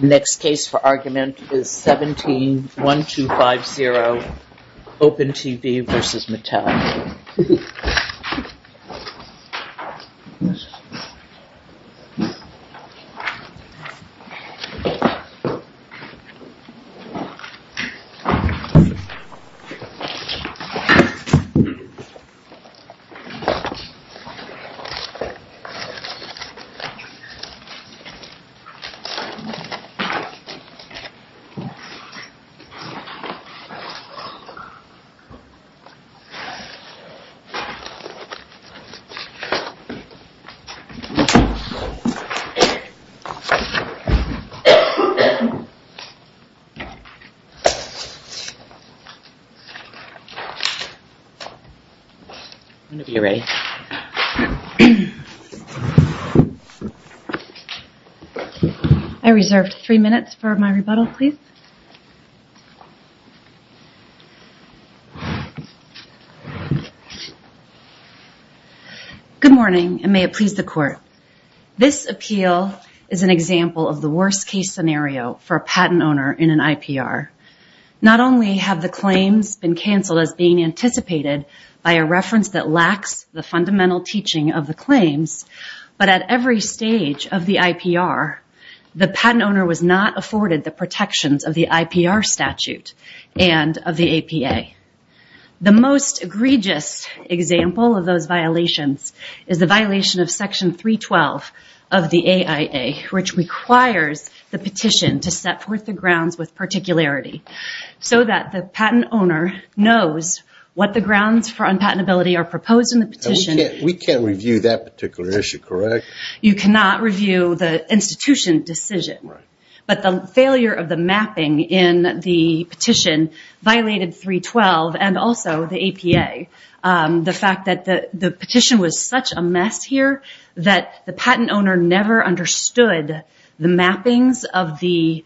Next case for argument is 17-1250, OpenTV v. Matal. This case is 17-1250, OpenTV v. Matal. I reserve three minutes for my rebuttal, please. Good morning, and may it please the Court. This appeal is an example of the worst-case scenario for a patent owner in an IPR. Not only have the claims been canceled as being anticipated by a reference that lacks the fundamental teaching of the claims, but at every stage of the IPR, the patent owner was not afforded the protections of the IPR statute and of the APA. The most egregious example of those violations is the violation of Section 312 of the AIA, which requires the petition to set forth the grounds with particularity, so that the patent owner knows what the grounds for unpatentability are proposed in the petition. We can't review that particular issue, correct? You cannot review the institution decision. But the failure of the mapping in the petition violated 312 and also the APA. The fact that the petition was such a mess here that the patent owner never understood the mappings of the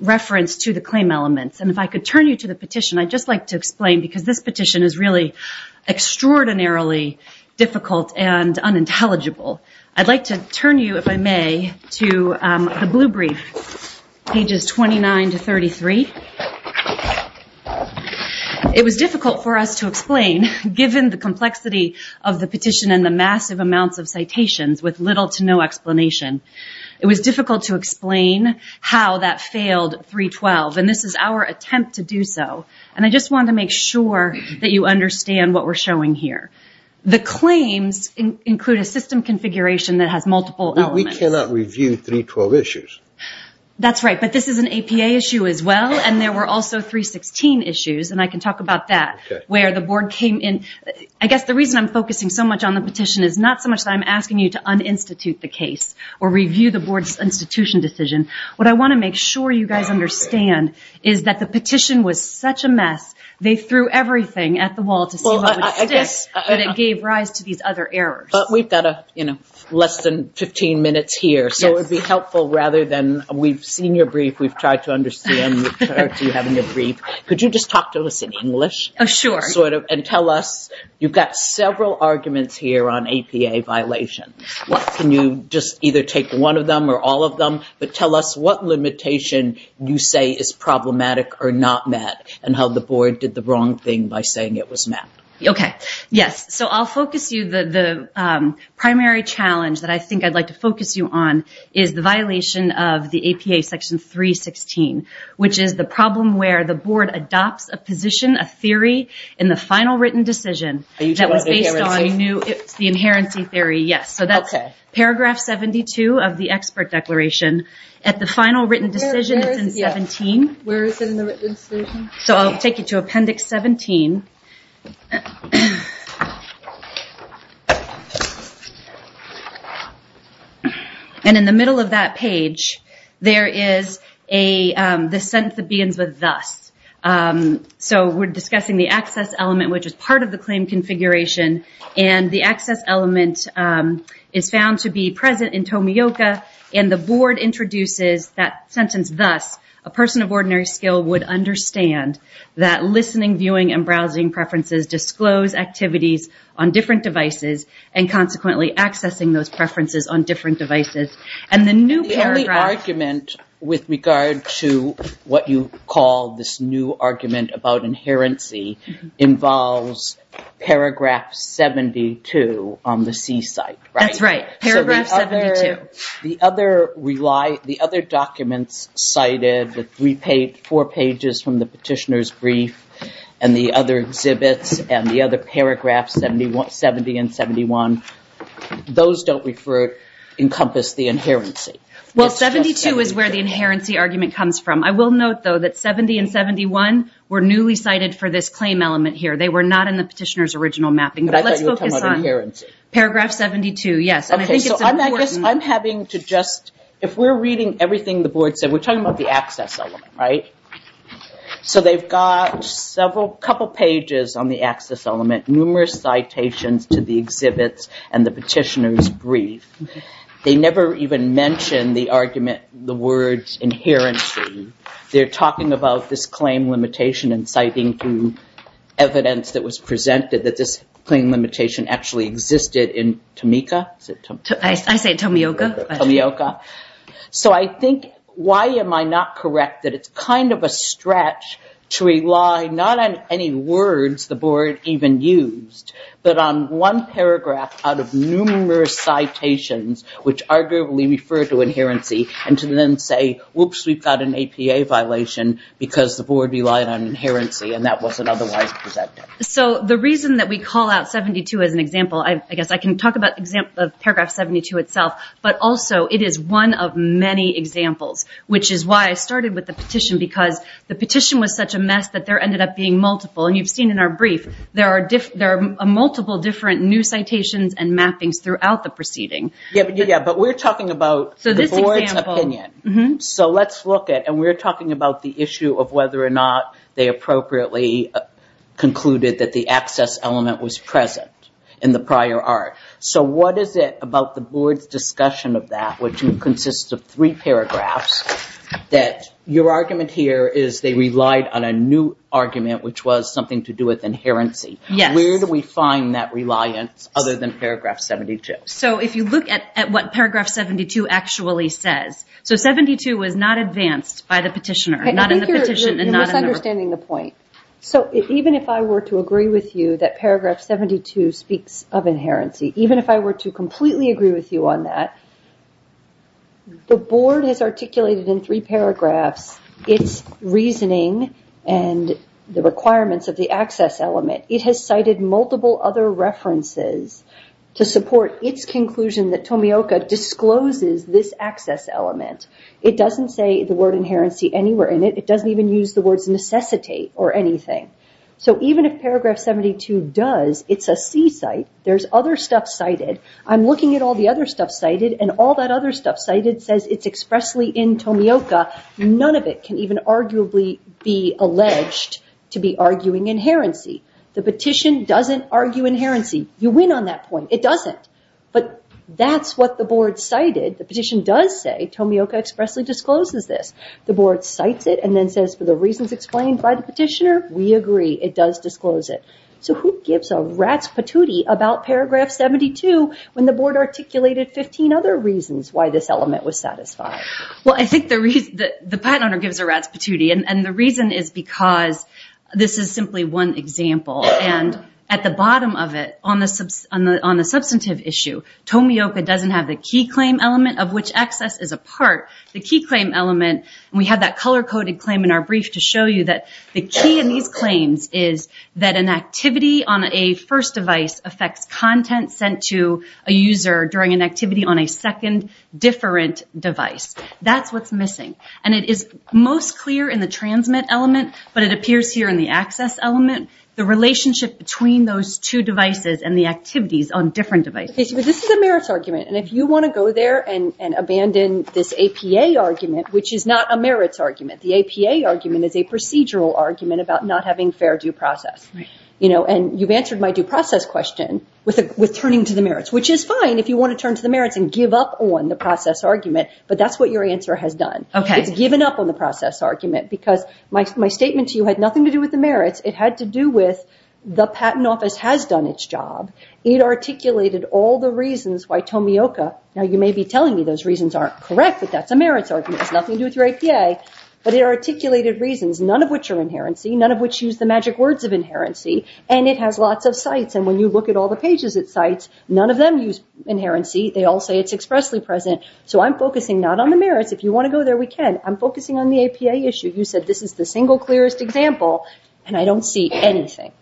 reference to the claim elements. If I could turn you to the petition, I'd just like to explain, because this petition is really extraordinarily difficult and unintelligible. I'd like to turn you, if I may, to the blue brief, pages 29 to 33. It was difficult for us to explain, given the complexity of the petition and the massive amounts of citations with little to no explanation. It was difficult to explain how that failed 312. This is our attempt to do so. I just want to make sure that you understand what we're showing here. The claims include a system configuration that has multiple elements. We cannot review 312 issues. That's right, but this is an APA issue as well. There were also 316 issues, and I can talk about that, where the board came in. I guess the reason I'm focusing so much on the petition is not so much that I'm asking you to uninstitute the case or review the board's institution decision. What I want to make sure you guys understand is that the petition was such a mess. They threw everything at the wall to see what would stick, but it gave rise to these other errors. We've got less than 15 minutes here, so it would be helpful rather than we've seen your brief, we've tried to understand your brief. Could you just talk to us in English? Sure. Tell us, you've got several arguments here on APA violations. Can you just either take one of them or all of them, but tell us what limitation you say is problematic or not met, and how the board did the wrong thing by saying it was met. Okay. Yes. I'll focus you. The primary challenge that I think I'd like to focus you on is the violation of the APA section 316, which is the problem where the board adopts a position, a theory, in the final written decision. It's the inherency theory, yes. Paragraph 72 of the expert declaration. At the final written decision, it's in 17. Where is it in the written decision? I'll take you to Appendix 17. In the middle of that page, there is the sentence that begins with thus. We're discussing the access element, which is part of the claim configuration, and the access element is found to be present in Tomioka, and the board introduces that sentence thus. A person of ordinary skill would understand that listening, viewing, and browsing preferences disclose activities on different devices, and consequently accessing those preferences on different devices. The only argument with regard to what you call this new argument about inherency involves paragraph 72 on the C-site. That's right. Paragraph 72. The other documents cited, the four pages from the petitioner's brief and the other exhibits and the other paragraphs, 70 and 71, those don't encompass the inherency. Well, 72 is where the inherency argument comes from. I will note, though, that 70 and 71 were newly cited for this claim element here. They were not in the petitioner's original mapping. But I thought you were talking about inherency. Paragraph 72, yes, and I think it's important. I'm having to just, if we're reading everything the board said, we're talking about the access element, right? So they've got a couple pages on the access element, numerous citations to the exhibits and the petitioner's brief. They never even mention the argument, the words, inherency. They're talking about this claim limitation and citing to evidence that was presented that this claim limitation actually existed in Tomica. I say Tomioka. Tomioka. So I think, why am I not correct that it's kind of a stretch to rely not on any words the board even used, but on one paragraph out of numerous citations, which arguably refer to inherency, and to then say, whoops, we've got an APA violation because the board relied on inherency and that wasn't otherwise presented. So the reason that we call out 72 as an example, I guess I can talk about paragraph 72 itself, but also it is one of many examples, which is why I started with the petition, because the petition was such a mess that there ended up being multiple. And you've seen in our brief, there are multiple different new citations and mappings throughout the proceeding. Yeah, but we're talking about the board's opinion. So let's look at, and we're talking about the issue of whether or not they appropriately concluded that the access element was present in the prior art. So what is it about the board's discussion of that, which consists of three paragraphs, that your argument here is they relied on a new argument, which was something to do with inherency. Where do we find that reliance other than paragraph 72? So if you look at what paragraph 72 actually says, so 72 was not advanced by the petitioner, not in the petition. You're misunderstanding the point. So even if I were to agree with you that paragraph 72 speaks of inherency, even if I were to completely agree with you on that, the board has articulated in three paragraphs its reasoning and the requirements of the access element. It has cited multiple other references to support its conclusion that Tomioka discloses this access element. It doesn't say the word inherency anywhere in it. It doesn't even use the words necessitate or anything. So even if paragraph 72 does, it's a C site, there's other stuff cited. I'm looking at all the other stuff cited, and all that other stuff cited says it's expressly in Tomioka. None of it can even arguably be alleged to be arguing inherency. The petition doesn't argue inherency. You win on that point. It doesn't. But that's what the board cited. The petition does say Tomioka expressly discloses this. The board cites it and then says, for the reasons explained by the petitioner, we agree. It does disclose it. So who gives a rat's patootie about paragraph 72 when the board articulated 15 other reasons why this element was satisfied? Well, I think the patent owner gives a rat's patootie, and the reason is because this is simply one example. And at the bottom of it, on the substantive issue, Tomioka doesn't have the key claim element of which access is a part. The key claim element, and we have that color-coded claim in our brief to show you that the key in these claims is that an activity on a first device affects content sent to a user during an activity on a second different device. That's what's missing. And it is most clear in the transmit element, but it appears here in the access element, the relationship between those two devices and the activities on different devices. But this is a merits argument. And if you want to go there and abandon this APA argument, which is not a merits argument. The APA argument is a procedural argument about not having fair due process. And you've answered my due process question with turning to the merits, which is fine if you want to turn to the merits and give up on the process argument, but that's what your answer has done. It's given up on the process argument, because my statement to you had nothing to do with the merits. It had to do with the patent office has done its job. It articulated all the reasons why Tomioka, now you may be telling me those reasons aren't correct, but that's a merits argument. It has nothing to do with your APA. But it articulated reasons, none of which are inherency, none of which use the magic words of inherency, and it has lots of sites. And when you look at all the pages at sites, none of them use inherency. They all say it's expressly present. So I'm focusing not on the merits. If you want to go there, we can. I'm focusing on the APA issue. You said this is the single clearest example, and I don't see anything.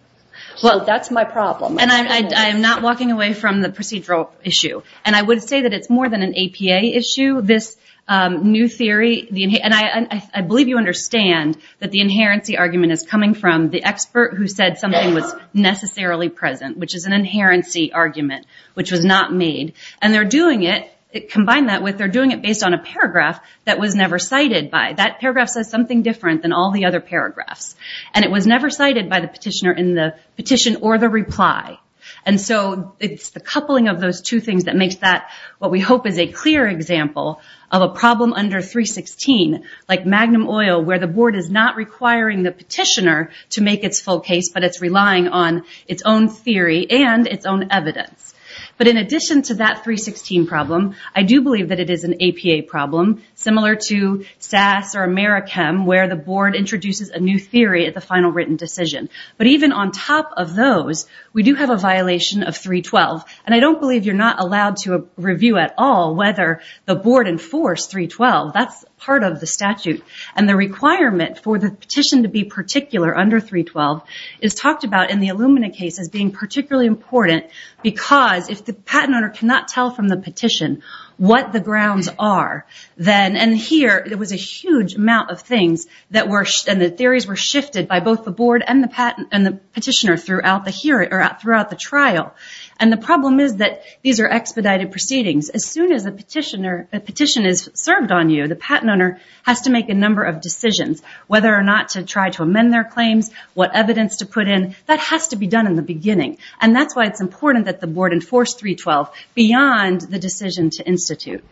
Well, that's my problem. And I'm not walking away from the procedural issue. And I would say that it's more than an APA issue. This new theory, and I believe you understand that the inherency argument is coming from the expert who said something was necessarily present, which is an inherency argument, which was not made. And they're doing it, combine that with they're doing it based on a paragraph that was never cited by. That paragraph says something different than all the other paragraphs. And it was never cited by the petitioner in the petition or the reply. And so it's the coupling of those two things that makes that what we hope is a clear example of a problem under 316, like Magnum Oil, where the board is not requiring the petitioner to make its full case, but it's relying on its own theory and its own evidence. But in addition to that 316 problem, I do believe that it is an APA problem, similar to SAS or Americhem, where the board introduces a new theory at the final written decision. But even on top of those, we do have a violation of 312. And I don't believe you're not allowed to review at all whether the board enforced 312. That's part of the statute. And the requirement for the petition to be particular under 312 is talked about in the Illumina case as being particularly important, because if the patent owner cannot tell from the petition what the grounds are, and here it was a huge amount of things, and the theories were shifted by both the board and the petitioner throughout the trial. And the problem is that these are expedited proceedings. As soon as a petition is served on you, the patent owner has to make a number of decisions, whether or not to try to amend their claims, what evidence to put in. That has to be done in the beginning. And that's why it's important that the board enforce 312, beyond the decision to institute.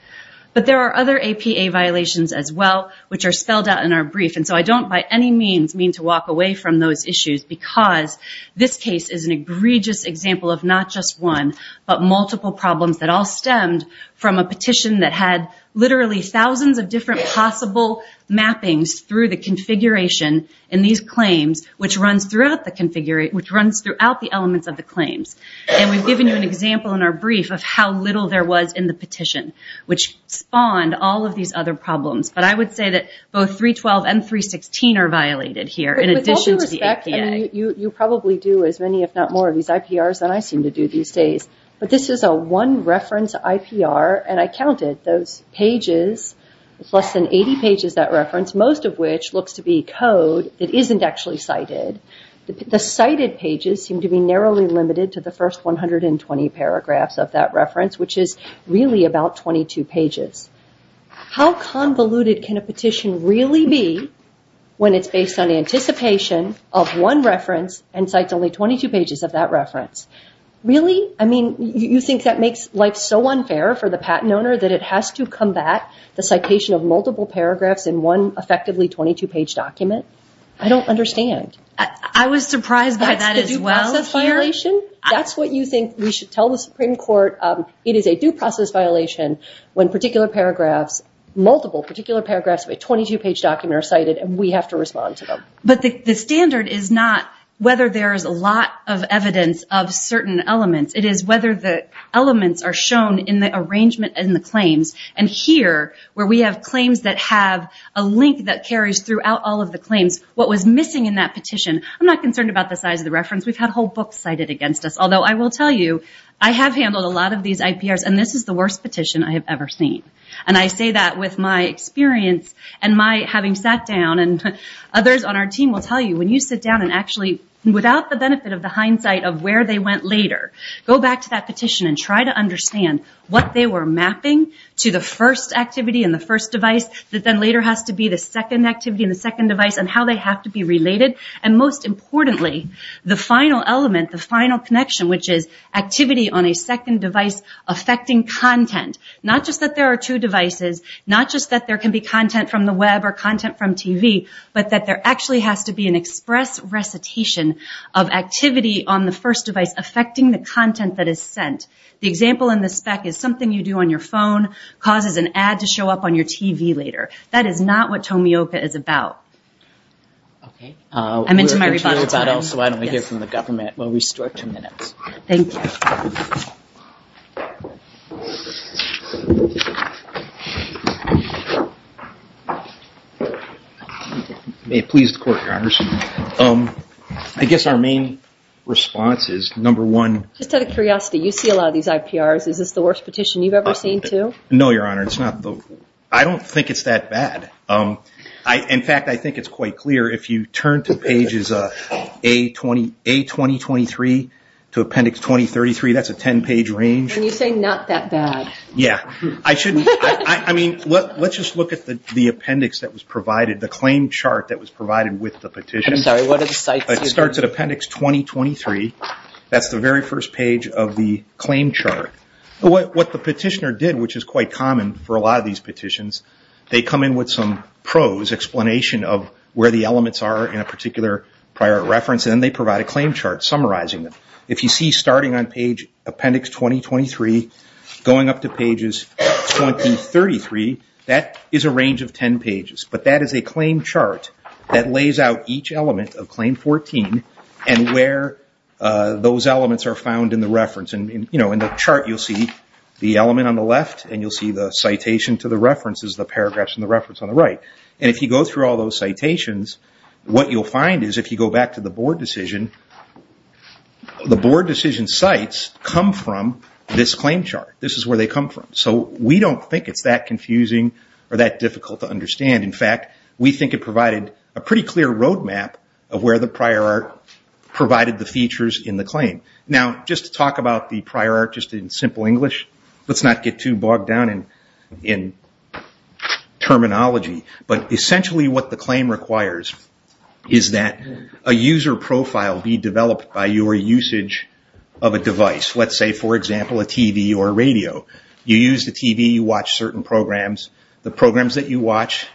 But there are other APA violations as well, which are spelled out in our brief. And so I don't by any means mean to walk away from those issues, because this case is an egregious example of not just one, but multiple problems that all stemmed from a petition that had literally thousands of different possible mappings through the configuration in these claims, which runs throughout the elements of the claims. And we've given you an example in our brief of how little there was in the petition, which spawned all of these other problems. But I would say that both 312 and 316 are violated here, in addition to the APA. You probably do as many, if not more, of these IPRs than I seem to do these days. But this is a one-reference IPR, and I counted those pages. It's less than 80 pages, that reference, most of which looks to be code that isn't actually cited. The cited pages seem to be narrowly limited to the first 120 paragraphs of that reference, which is really about 22 pages. How convoluted can a petition really be when it's based on anticipation of one reference and cites only 22 pages of that reference? Really? I mean, you think that makes life so unfair for the patent owner that it has to combat the citation of multiple paragraphs in one effectively 22-page document? I don't understand. I was surprised by that as well here. That's the due process violation? That's what you think we should tell the Supreme Court? It is a due process violation when multiple particular paragraphs of a 22-page document are cited, and we have to respond to them. But the standard is not whether there is a lot of evidence of certain elements. It is whether the elements are shown in the arrangement and the claims. And here, where we have claims that have a link that carries throughout all of the claims, what was missing in that petition, I'm not concerned about the size of the reference. We've had whole books cited against us. Although I will tell you, I have handled a lot of these IPRs, and this is the worst petition I have ever seen. And I say that with my experience and my having sat down, and others on our team will tell you, when you sit down and actually, without the benefit of the hindsight of where they went later, go back to that petition and try to understand what they were mapping to the first activity and the first device that then later has to be the second activity and the second device, and how they have to be related. And most importantly, the final element, the final connection, which is activity on a second device affecting content. Not just that there are two devices, not just that there can be content from the web or content from TV, but that there actually has to be an express recitation of activity on the first device affecting the content that is sent. The example in the spec is something you do on your phone causes an ad to show up on your TV later. That is not what Tomioka is about. I'm into my rebuttal time. We'll hear from the government. We'll restore two minutes. Thank you. May it please the Court, Your Honor. I guess our main response is, number one... Just out of curiosity, you see a lot of these IPRs. Is this the worst petition you've ever seen, too? No, Your Honor. I don't think it's that bad. In fact, I think it's quite clear. If you turn to pages A2023 to appendix 2033, that's a 10-page range. And you say not that bad. Let's just look at the appendix that was provided, the claim chart that was provided with the petition. It starts at appendix 2023. That's the very first page of the claim chart. What the petitioner did, which is quite common for a lot of these petitions, they come in with some prose, explanation of where the elements are in a particular prior reference, and then they provide a claim chart summarizing it. If you see starting on page appendix 2023, going up to pages 2033, that is a range of 10 pages. But that is a claim chart that lays out each element of claim 14 and where those elements are found in the reference. In the chart, you'll see the element on the left, and you'll see the citation to the references, the paragraphs in the reference on the right. And if you go through all those citations, what you'll find is, if you go back to the board decision, the board decision sites come from this claim chart. This is where they come from. So we don't think it's that confusing or that difficult to understand. In fact, we think it provided a pretty clear road map of where the prior art provided the features in the claim. Now, just to talk about the prior art in simple English, let's not get too bogged down in terminology, but essentially what the claim requires is that a user profile be developed by your usage of a device. Let's say, for example, a TV or a radio. You use the TV, you watch certain programs. The programs that you watch,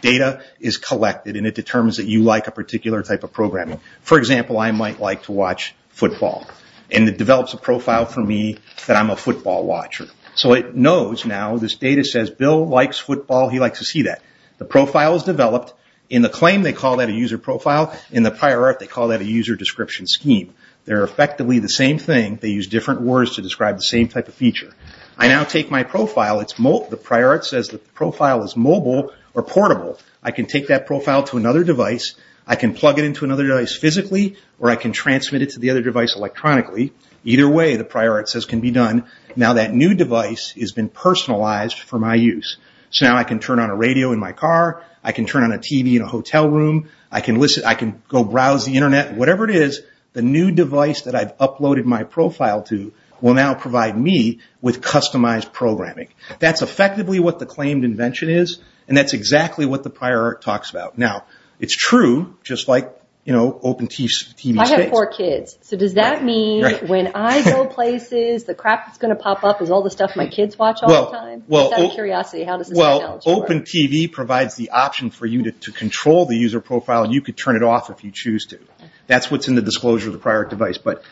data is collected, and it determines that you like a particular type of programming. For example, I might like to watch football, and it develops a profile for me that I'm a football watcher. So it knows now, this data says, Bill likes football, he likes to see that. The profile is developed. In the claim, they call that a user profile. In the prior art, they call that a user description scheme. They're effectively the same thing. They use different words to describe the same type of feature. I now take my profile. The prior art says the profile is mobile or portable. I can take that profile to another device. I can plug it into another device physically, or I can transmit it to the other device electronically. Either way, the prior art says, can be done. Now that new device has been personalized for my use. So now I can turn on a radio in my car. I can turn on a TV in a hotel room. I can go browse the internet. Whatever it is, the new device that I've uploaded my profile to will now provide me with customized programming. That's effectively what the claimed invention is, and that's exactly what the prior art talks about. Now, it's true, just like open TV space. I have four kids. So does that mean when I go places, the crap that's going to pop up is all the stuff my kids watch all the time? Well, open TV provides the option for you to control the user profile, and you can turn it off if you choose to. That's what's in the disclosure of the prior art device. But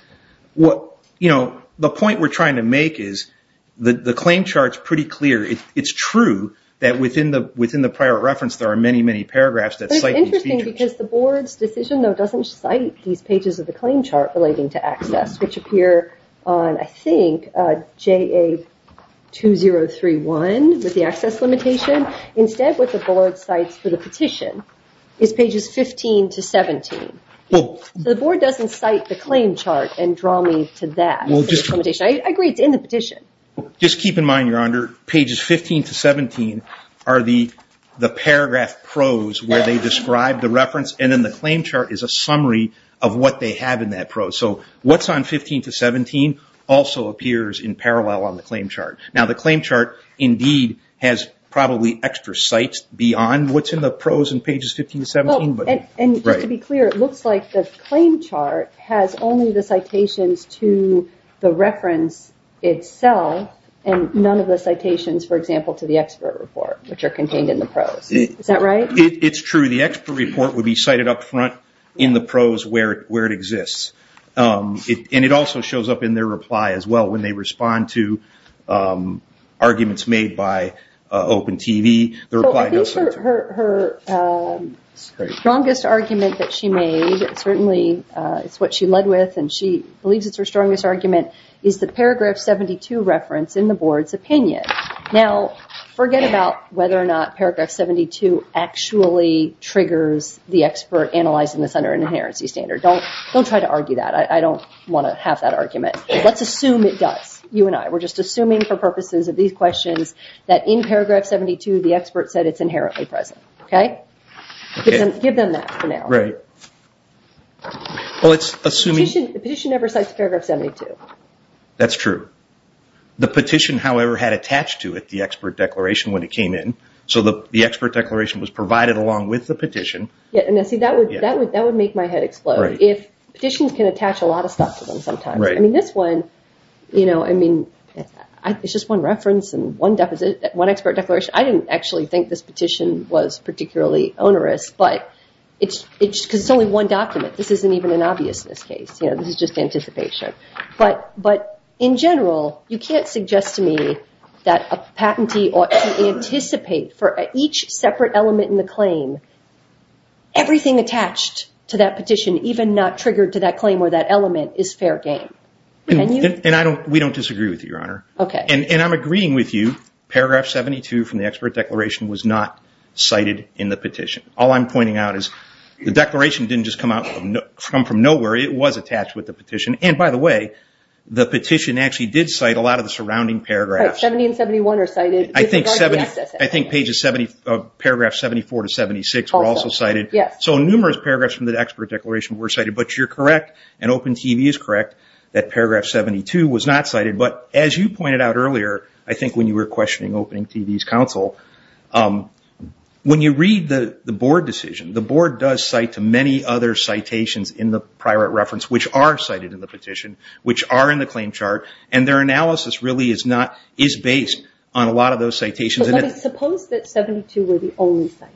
the point we're trying to make is the claimed chart is pretty clear. It's true that within the prior art reference, there are many, many paragraphs that cite these features. It's interesting because the board's decision, though, doesn't cite these pages of the claimed chart relating to access, which appear on, I think, JA2031 with the access limitation. Instead, what the board cites for the petition is pages 15 to 17. The board doesn't cite the claimed chart and draw me to that. I agree it's in the petition. Just keep in mind, Your Honor, pages 15 to 17 are the paragraph prose where they describe the reference, and then the claimed chart is a summary of what they have in that prose. So what's on 15 to 17 also appears in parallel on the claimed chart. Now, the claimed chart indeed has probably extra cites beyond what's in the prose in pages 15 to 17. To be clear, it looks like the claimed chart has only the citations to the reference itself and none of the citations, for example, to the expert report, which are contained in the prose. Is that right? It's true. The expert report would be cited up front in the prose where it exists. It also shows up in their reply as well when they respond to arguments made by Open TV. Her strongest argument that she made, certainly it's what she led with, and she believes it's her strongest argument, is the paragraph 72 reference in the board's opinion. Now, forget about whether or not paragraph 72 actually triggers the expert analyzing this under an inherency standard. Don't try to argue that. I don't want to have that argument. Let's assume it does, you and I. We're just assuming for purposes of these questions that in paragraph 72, the expert said it's inherently present. Okay? Give them that for now. Right. Well, it's assuming... The petition never cites paragraph 72. That's true. The petition, however, had attached to it the expert declaration when it came in, so the expert declaration was provided along with the petition. See, that would make my head explode. Petitions can attach a lot of stuff to them sometimes. This one, it's just one reference and one expert declaration. I didn't actually think this petition was particularly onerous, because it's only one document. This isn't even an obviousness case. This is just anticipation. But in general, you can't suggest to me that a patentee ought to anticipate for each separate element in the claim, everything attached to that petition, even not triggered to that claim or that element, is fair game. Can you? And we don't disagree with you, Your Honor. And I'm agreeing with you. Paragraph 72 from the expert declaration was not cited in the petition. All I'm pointing out is the declaration didn't just come from nowhere. It was attached with the petition. And, by the way, the petition actually did cite a lot of the surrounding paragraphs. 70 and 71 are cited. I think paragraphs 74 to 76 were also cited. So numerous paragraphs from the expert declaration were cited. But you're correct, and Open TV is correct, that paragraph 72 was not cited. But as you pointed out earlier, I think when you were questioning Open TV's counsel, when you read the board decision, the board does cite to many other citations in the prior reference which are cited in the petition, which are in the claim chart, and their analysis really is based on a lot of those citations. Suppose that 72 were the only cited.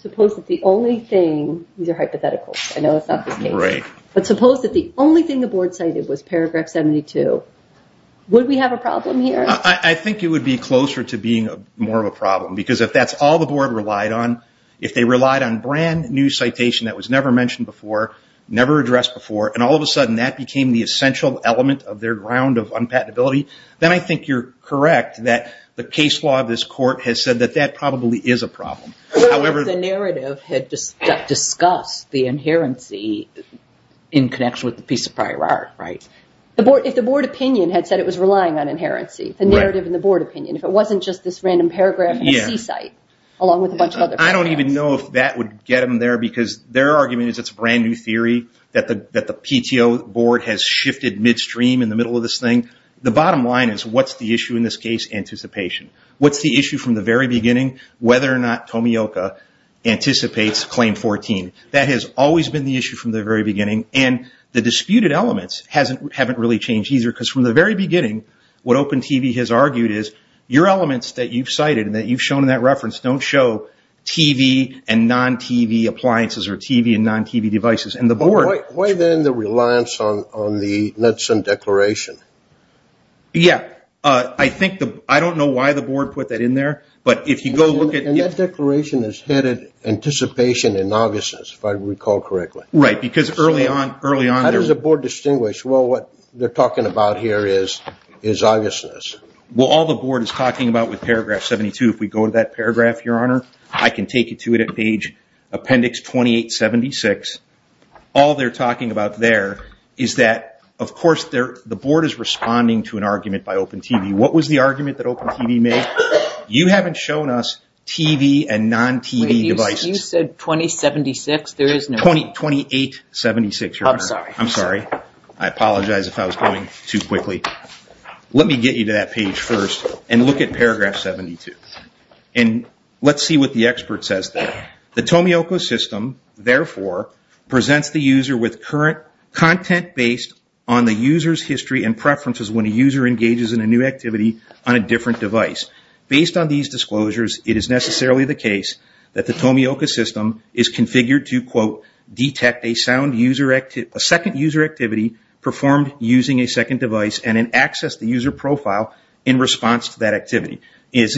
Suppose that the only thing, these are hypotheticals. I know it's not this case. Right. But suppose that the only thing the board cited was paragraph 72. Would we have a problem here? I think it would be closer to being more of a problem, because if that's all the board relied on, if they relied on brand new citation that was never mentioned before, never addressed before, and all of a sudden that became the essential element of their ground of unpatentability, then I think you're correct that the case law of this court has said that that probably is a problem. What if the narrative had discussed the inherency in connection with the piece of prior art, right? If the board opinion had said it was relying on inherency, the narrative and the board opinion, if it wasn't just this random paragraph in a C-site along with a bunch of other paragraphs. I don't even know if that would get them there, because their argument is it's a brand new theory, that the PTO board has shifted midstream in the middle of this thing. The bottom line is what's the issue in this case? Anticipation. What's the issue from the very beginning? Whether or not Tomioka anticipates Claim 14. That has always been the issue from the very beginning, and the disputed elements haven't really changed either, because from the very beginning, what Open TV has argued is your elements that you've cited and that you've shown in that reference don't show TV and non-TV appliances or TV and non-TV devices. Why then the reliance on the Netson Declaration? I don't know why the board put that in there, but if you go look at it. That declaration is headed Anticipation and Obviousness, if I recall correctly. Right, because early on. How does the board distinguish what they're talking about here is obviousness? Well, all the board is talking about with paragraph 72, if we go to that paragraph, Your Honor, I can take you to it at page appendix 2876. All they're talking about there is that, of course, the board is responding to an argument by Open TV. What was the argument that Open TV made? You haven't shown us TV and non-TV devices. You said 2076. 2876, Your Honor. I'm sorry. I'm sorry. I apologize if I was going too quickly. Let me get you to that page first and look at paragraph 72. Let's see what the expert says there. The Tomioka system, therefore, presents the user with current content based on the user's history and preferences when a user engages in a new activity on a different device. Based on these disclosures, it is necessarily the case that the Tomioka system is configured to, quote, detect a second user activity performed using a second device and then access the user profile in response to that activity, as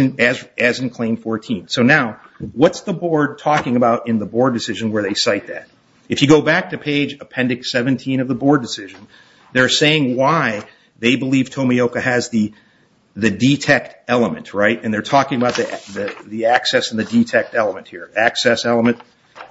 in claim 14. So now, what's the board talking about in the board decision where they cite that? If you go back to page appendix 17 of the board decision, they're saying why they believe Tomioka has the detect element, right? And they're talking about the access and the detect element here. Access element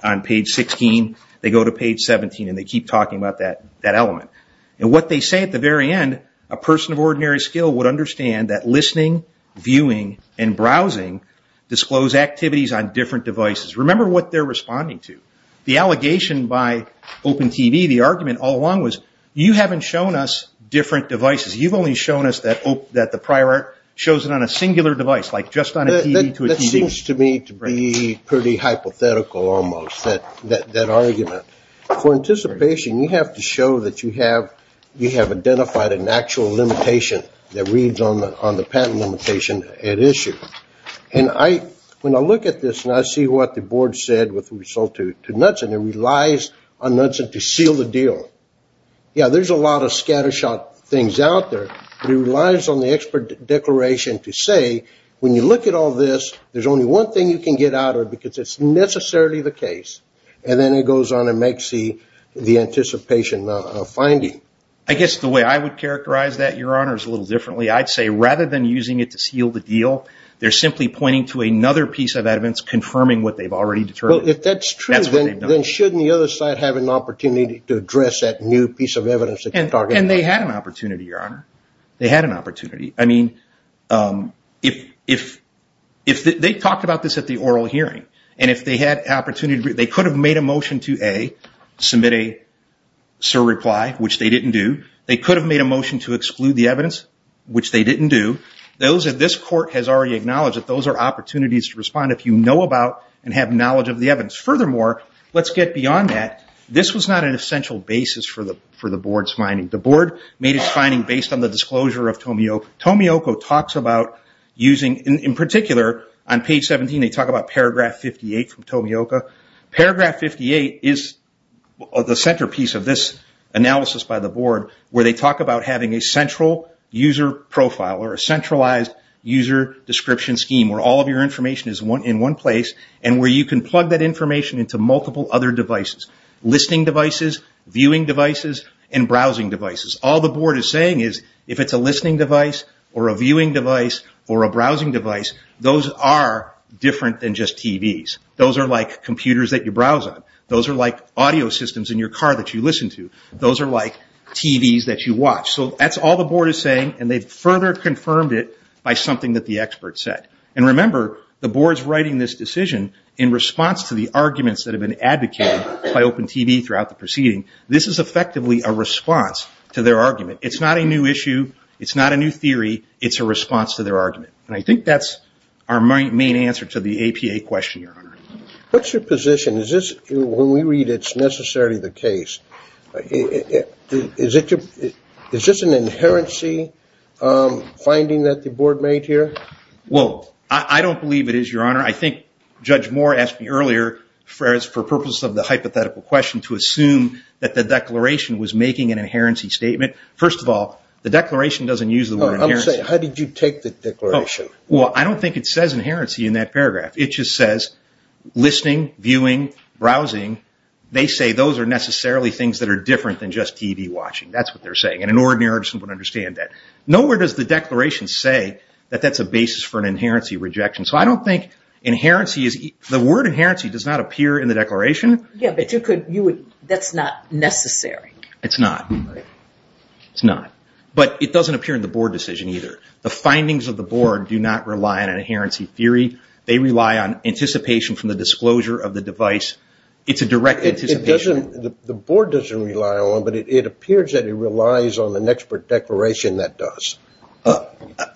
on page 16. They go to page 17 and they keep talking about that element. And what they say at the very end, a person of ordinary skill would understand that listening, viewing, and browsing disclose activities on different devices. Remember what they're responding to. The allegation by Open TV, the argument all along was, you haven't shown us different devices. You've only shown us that the prior art shows it on a singular device, like just on a TV to a TV. It seems to me to be pretty hypothetical almost, that argument. For anticipation, you have to show that you have identified an actual limitation that reads on the patent limitation at issue. And when I look at this and I see what the board said with result to Knudsen, it relies on Knudsen to seal the deal. Yeah, there's a lot of scattershot things out there, but it relies on the expert declaration to say, when you look at all this, there's only one thing you can get out of it because it's necessarily the case. And then it goes on and makes the anticipation of finding. I guess the way I would characterize that, Your Honor, is a little differently. I'd say rather than using it to seal the deal, they're simply pointing to another piece of evidence confirming what they've already determined. Well, if that's true, then shouldn't the other side have an opportunity to address that new piece of evidence? And they had an opportunity, Your Honor. They had an opportunity. I mean, they talked about this at the oral hearing, and if they had an opportunity, they could have made a motion to, A, submit a surreply, which they didn't do. They could have made a motion to exclude the evidence, which they didn't do. This court has already acknowledged that those are opportunities to respond if you know about and have knowledge of the evidence. Furthermore, let's get beyond that. This was not an essential basis for the board's finding. The board made its finding based on the disclosure of Tomioka. Tomioka talks about using, in particular, on page 17, they talk about paragraph 58 from Tomioka. Paragraph 58 is the centerpiece of this analysis by the board, where they talk about having a central user profile or a centralized user description scheme where all of your information is in one place and where you can plug that information into multiple other devices. Listening devices, viewing devices, and browsing devices. All the board is saying is if it's a listening device or a viewing device or a browsing device, those are different than just TVs. Those are like computers that you browse on. Those are like audio systems in your car that you listen to. Those are like TVs that you watch. So that's all the board is saying, and they've further confirmed it by something that the expert said. Remember, the board is writing this decision in response to the arguments that have been advocated by Open TV throughout the proceeding. This is effectively a response to their argument. It's not a new issue. It's not a new theory. It's a response to their argument. I think that's our main answer to the APA question, Your Honor. What's your position? When we read it, it's necessarily the case. Is this an inherency finding that the board made here? Well, I don't believe it is, Your Honor. I think Judge Moore asked me earlier, for the purpose of the hypothetical question, to assume that the declaration was making an inherency statement. First of all, the declaration doesn't use the word inherency. How did you take the declaration? Well, I don't think it says inherency in that paragraph. It just says listening, viewing, browsing. They say those are necessarily things that are different than just TV watching. That's what they're saying, and an ordinary person would understand that. Nowhere does the declaration say that that's a basis for an inherency rejection. So I don't think inherency is the word inherency does not appear in the declaration. Yeah, but that's not necessary. It's not. It's not. But it doesn't appear in the board decision either. The findings of the board do not rely on an inherency theory. They rely on anticipation from the disclosure of the device. It's a direct anticipation. The board doesn't rely on one, but it appears that it relies on an expert declaration that does.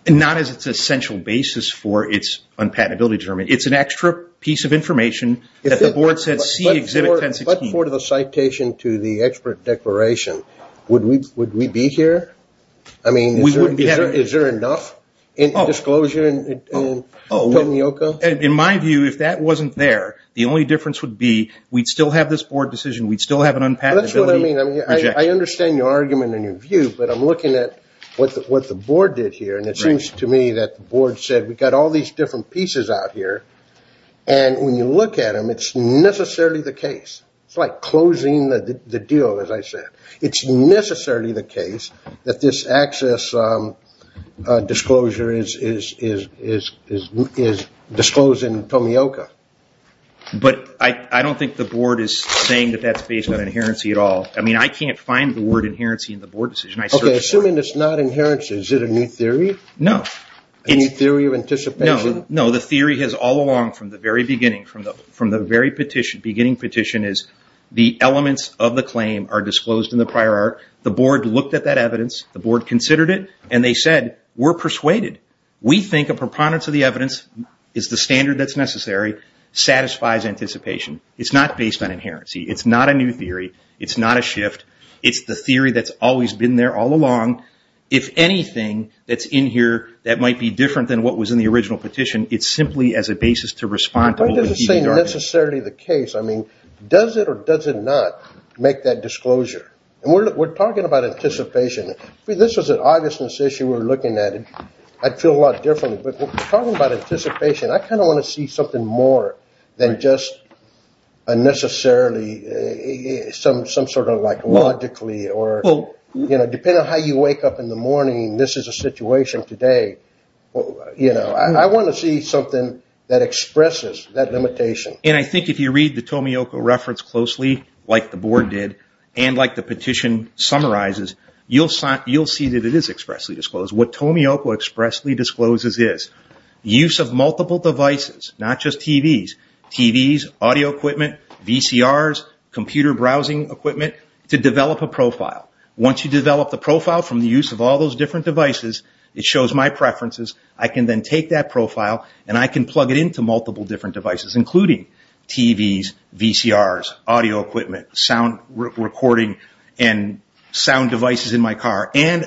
Not as its essential basis for its unpatentability determination. It's an extra piece of information that the board says see exhibit 1016. But for the citation to the expert declaration, would we be here? I mean, is there enough disclosure in Tomioka? In my view, if that wasn't there, the only difference would be we'd still have this board decision. We'd still have an unpatentability. That's what I mean. I understand your argument and your view, but I'm looking at what the board did here, and it seems to me that the board said we've got all these different pieces out here, and when you look at them, it's necessarily the case. It's like closing the deal, as I said. It's necessarily the case that this access disclosure is disclosed in Tomioka. But I don't think the board is saying that that's based on inherency at all. I mean, I can't find the word inherency in the board decision. Okay, assuming it's not inherency, is it a new theory? No. A new theory of anticipation? No. The theory has all along from the very beginning, from the very beginning petition is the elements of the claim are disclosed in the prior art. The board looked at that evidence. The board considered it, and they said we're persuaded. We think a preponderance of the evidence is the standard that's necessary, satisfies anticipation. It's not based on inherency. It's not a new theory. It's not a shift. It's the theory that's always been there all along. If anything that's in here that might be different than what was in the original petition, it's simply as a basis to respond to what would be the argument. That doesn't say necessarily the case. I mean, does it or does it not make that disclosure? And we're talking about anticipation. If this was an augustness issue we're looking at, I'd feel a lot different. But we're talking about anticipation. I kind of want to see something more than just unnecessarily some sort of like logically or, you know, depending on how you wake up in the morning, this is a situation today. You know, I want to see something that expresses that limitation. And I think if you read the Tomioka reference closely like the board did and like the petition summarizes, you'll see that it is expressly disclosed. What Tomioka expressly discloses is use of multiple devices, not just TVs, TVs, audio equipment, VCRs, computer browsing equipment to develop a profile. Once you develop the profile from the use of all those different devices, it shows my preferences, I can then take that profile and I can plug it into multiple different devices including TVs, VCRs, audio equipment, sound recording and sound devices in my car. And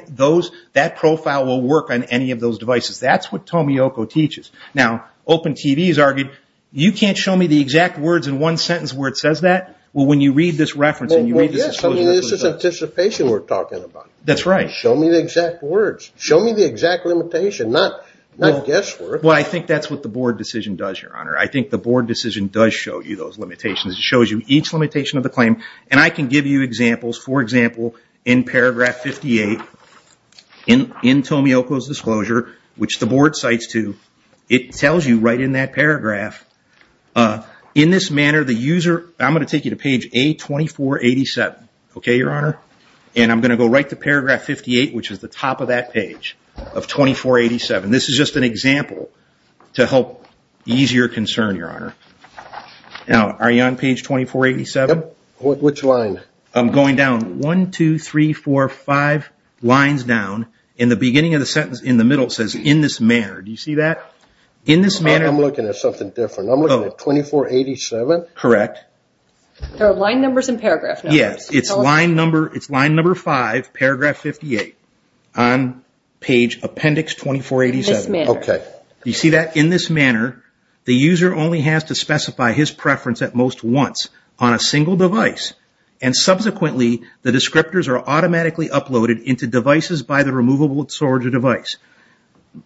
that profile will work on any of those devices. That's what Tomioka teaches. Now, Open TV has argued you can't show me the exact words in one sentence where it says that. Well, when you read this reference and you read this disclosure. Well, yes, I mean, this is anticipation we're talking about. That's right. Show me the exact words. Show me the exact limitation, not guesswork. Well, I think that's what the board decision does, Your Honor. I think the board decision does show you those limitations. It shows you each limitation of the claim. And I can give you examples. For example, in paragraph 58 in Tomioka's disclosure, which the board cites to, it tells you right in that paragraph, in this manner the user, I'm going to take you to page A2487, okay, Your Honor? And I'm going to go right to paragraph 58, which is the top of that page, of 2487. This is just an example to help ease your concern, Your Honor. Now, are you on page 2487? Yep. Which line? I'm going down. One, two, three, four, five lines down. In the beginning of the sentence, in the middle, it says, in this manner. Do you see that? In this manner. I'm looking at something different. I'm looking at 2487? Correct. There are line numbers and paragraph numbers. Yes. It's line number five, paragraph 58, on page appendix 2487. In this manner. Okay. Do you see that? In this manner, the user only has to specify his preference at most once on a single device. And subsequently, the descriptors are automatically uploaded into devices by the removable storage device.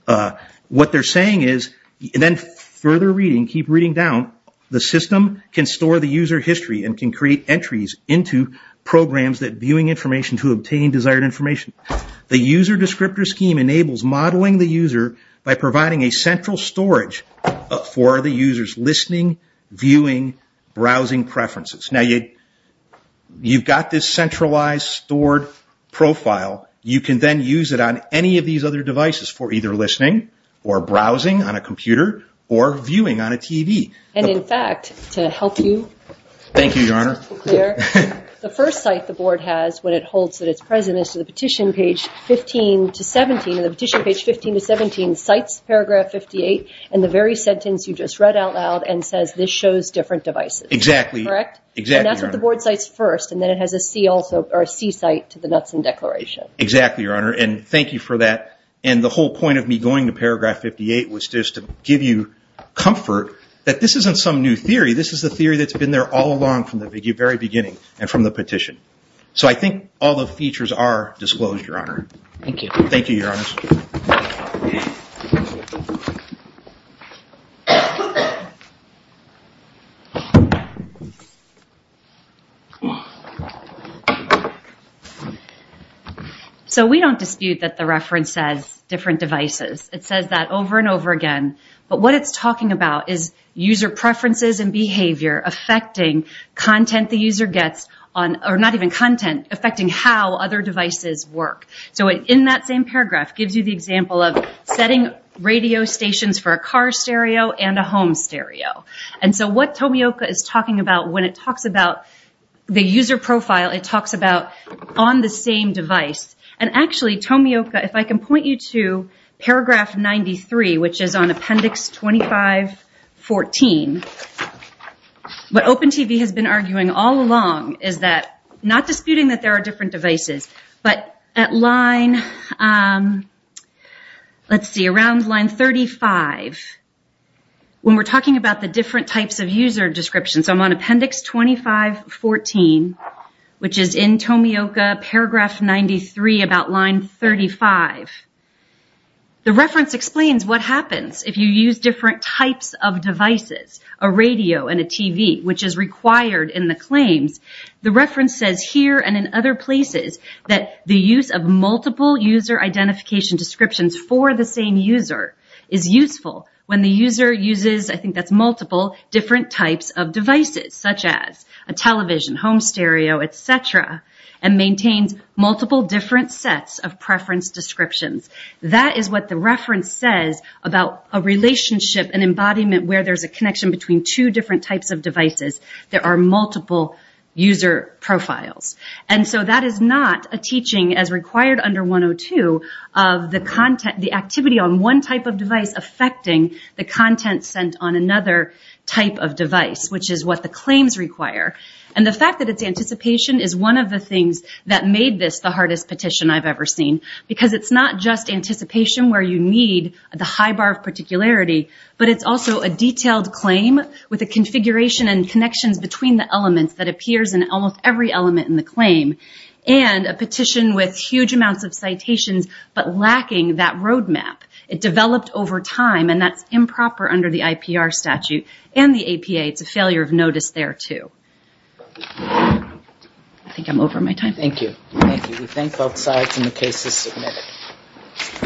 What they're saying is, and then further reading, keep reading down, the system can store the user history and can create entries into programs that viewing information to obtain desired information. The user descriptor scheme enables modeling the user by providing a central storage for the user's listening, viewing, browsing preferences. Now, you've got this centralized, stored profile. You can then use it on any of these other devices for either listening or browsing on a computer or viewing on a TV. And, in fact, to help you. Thank you, Your Honor. The first site the board has when it holds that it's present is to the petition page 15 to 17. And the petition page 15 to 17 cites paragraph 58 in the very sentence you just read out loud and says, this shows different devices. Exactly. Correct? Exactly, Your Honor. And that's what the board cites first. And then it has a C site to the Knutson Declaration. Exactly, Your Honor. And thank you for that. And the whole point of me going to paragraph 58 was just to give you comfort that this isn't some new theory. This is a theory that's been there all along from the very beginning and from the petition. So I think all the features are disclosed, Your Honor. Thank you. Thank you, Your Honor. So we don't dispute that the reference says different devices. It says that over and over again. But what it's talking about is user preferences and behavior affecting content the user gets on, or not even content, affecting how other devices work. So in that same paragraph, it gives you the example of setting radio stations for a car stereo and a home stereo. And so what Tomioka is talking about when it talks about the user profile, it talks about on the same device. And actually, Tomioka, if I can point you to paragraph 93, which is on appendix 2514, what Open TV has been arguing all along is that, not disputing that there are different devices, but at line, let's see, around line 35, when we're talking about the different types of user descriptions, I'm on appendix 2514, which is in Tomioka, paragraph 93, about line 35. The reference explains what happens if you use different types of devices, a radio and a TV, which is required in the claims. The reference says here and in other places that the use of multiple user identification descriptions for the same user is useful. When the user uses, I think that's multiple, different types of devices, such as a television, home stereo, et cetera, and maintains multiple different sets of preference descriptions. That is what the reference says about a relationship, an embodiment, where there's a connection between two different types of devices. There are multiple user profiles. And so that is not a teaching, as required under 102, of the activity on one type of device affecting the content sent on another type of device, which is what the claims require. And the fact that it's anticipation is one of the things that made this the hardest petition I've ever seen, because it's not just anticipation where you need the high bar of particularity, but it's also a detailed claim with a configuration and connections between the elements that appears in almost every element in the claim, and a petition with huge amounts of citations, but lacking that roadmap. It developed over time, and that's improper under the IPR statute and the APA. It's a failure of notice there, too. I think I'm over my time. Thank you. Thank you. We thank both sides, and the case is submitted.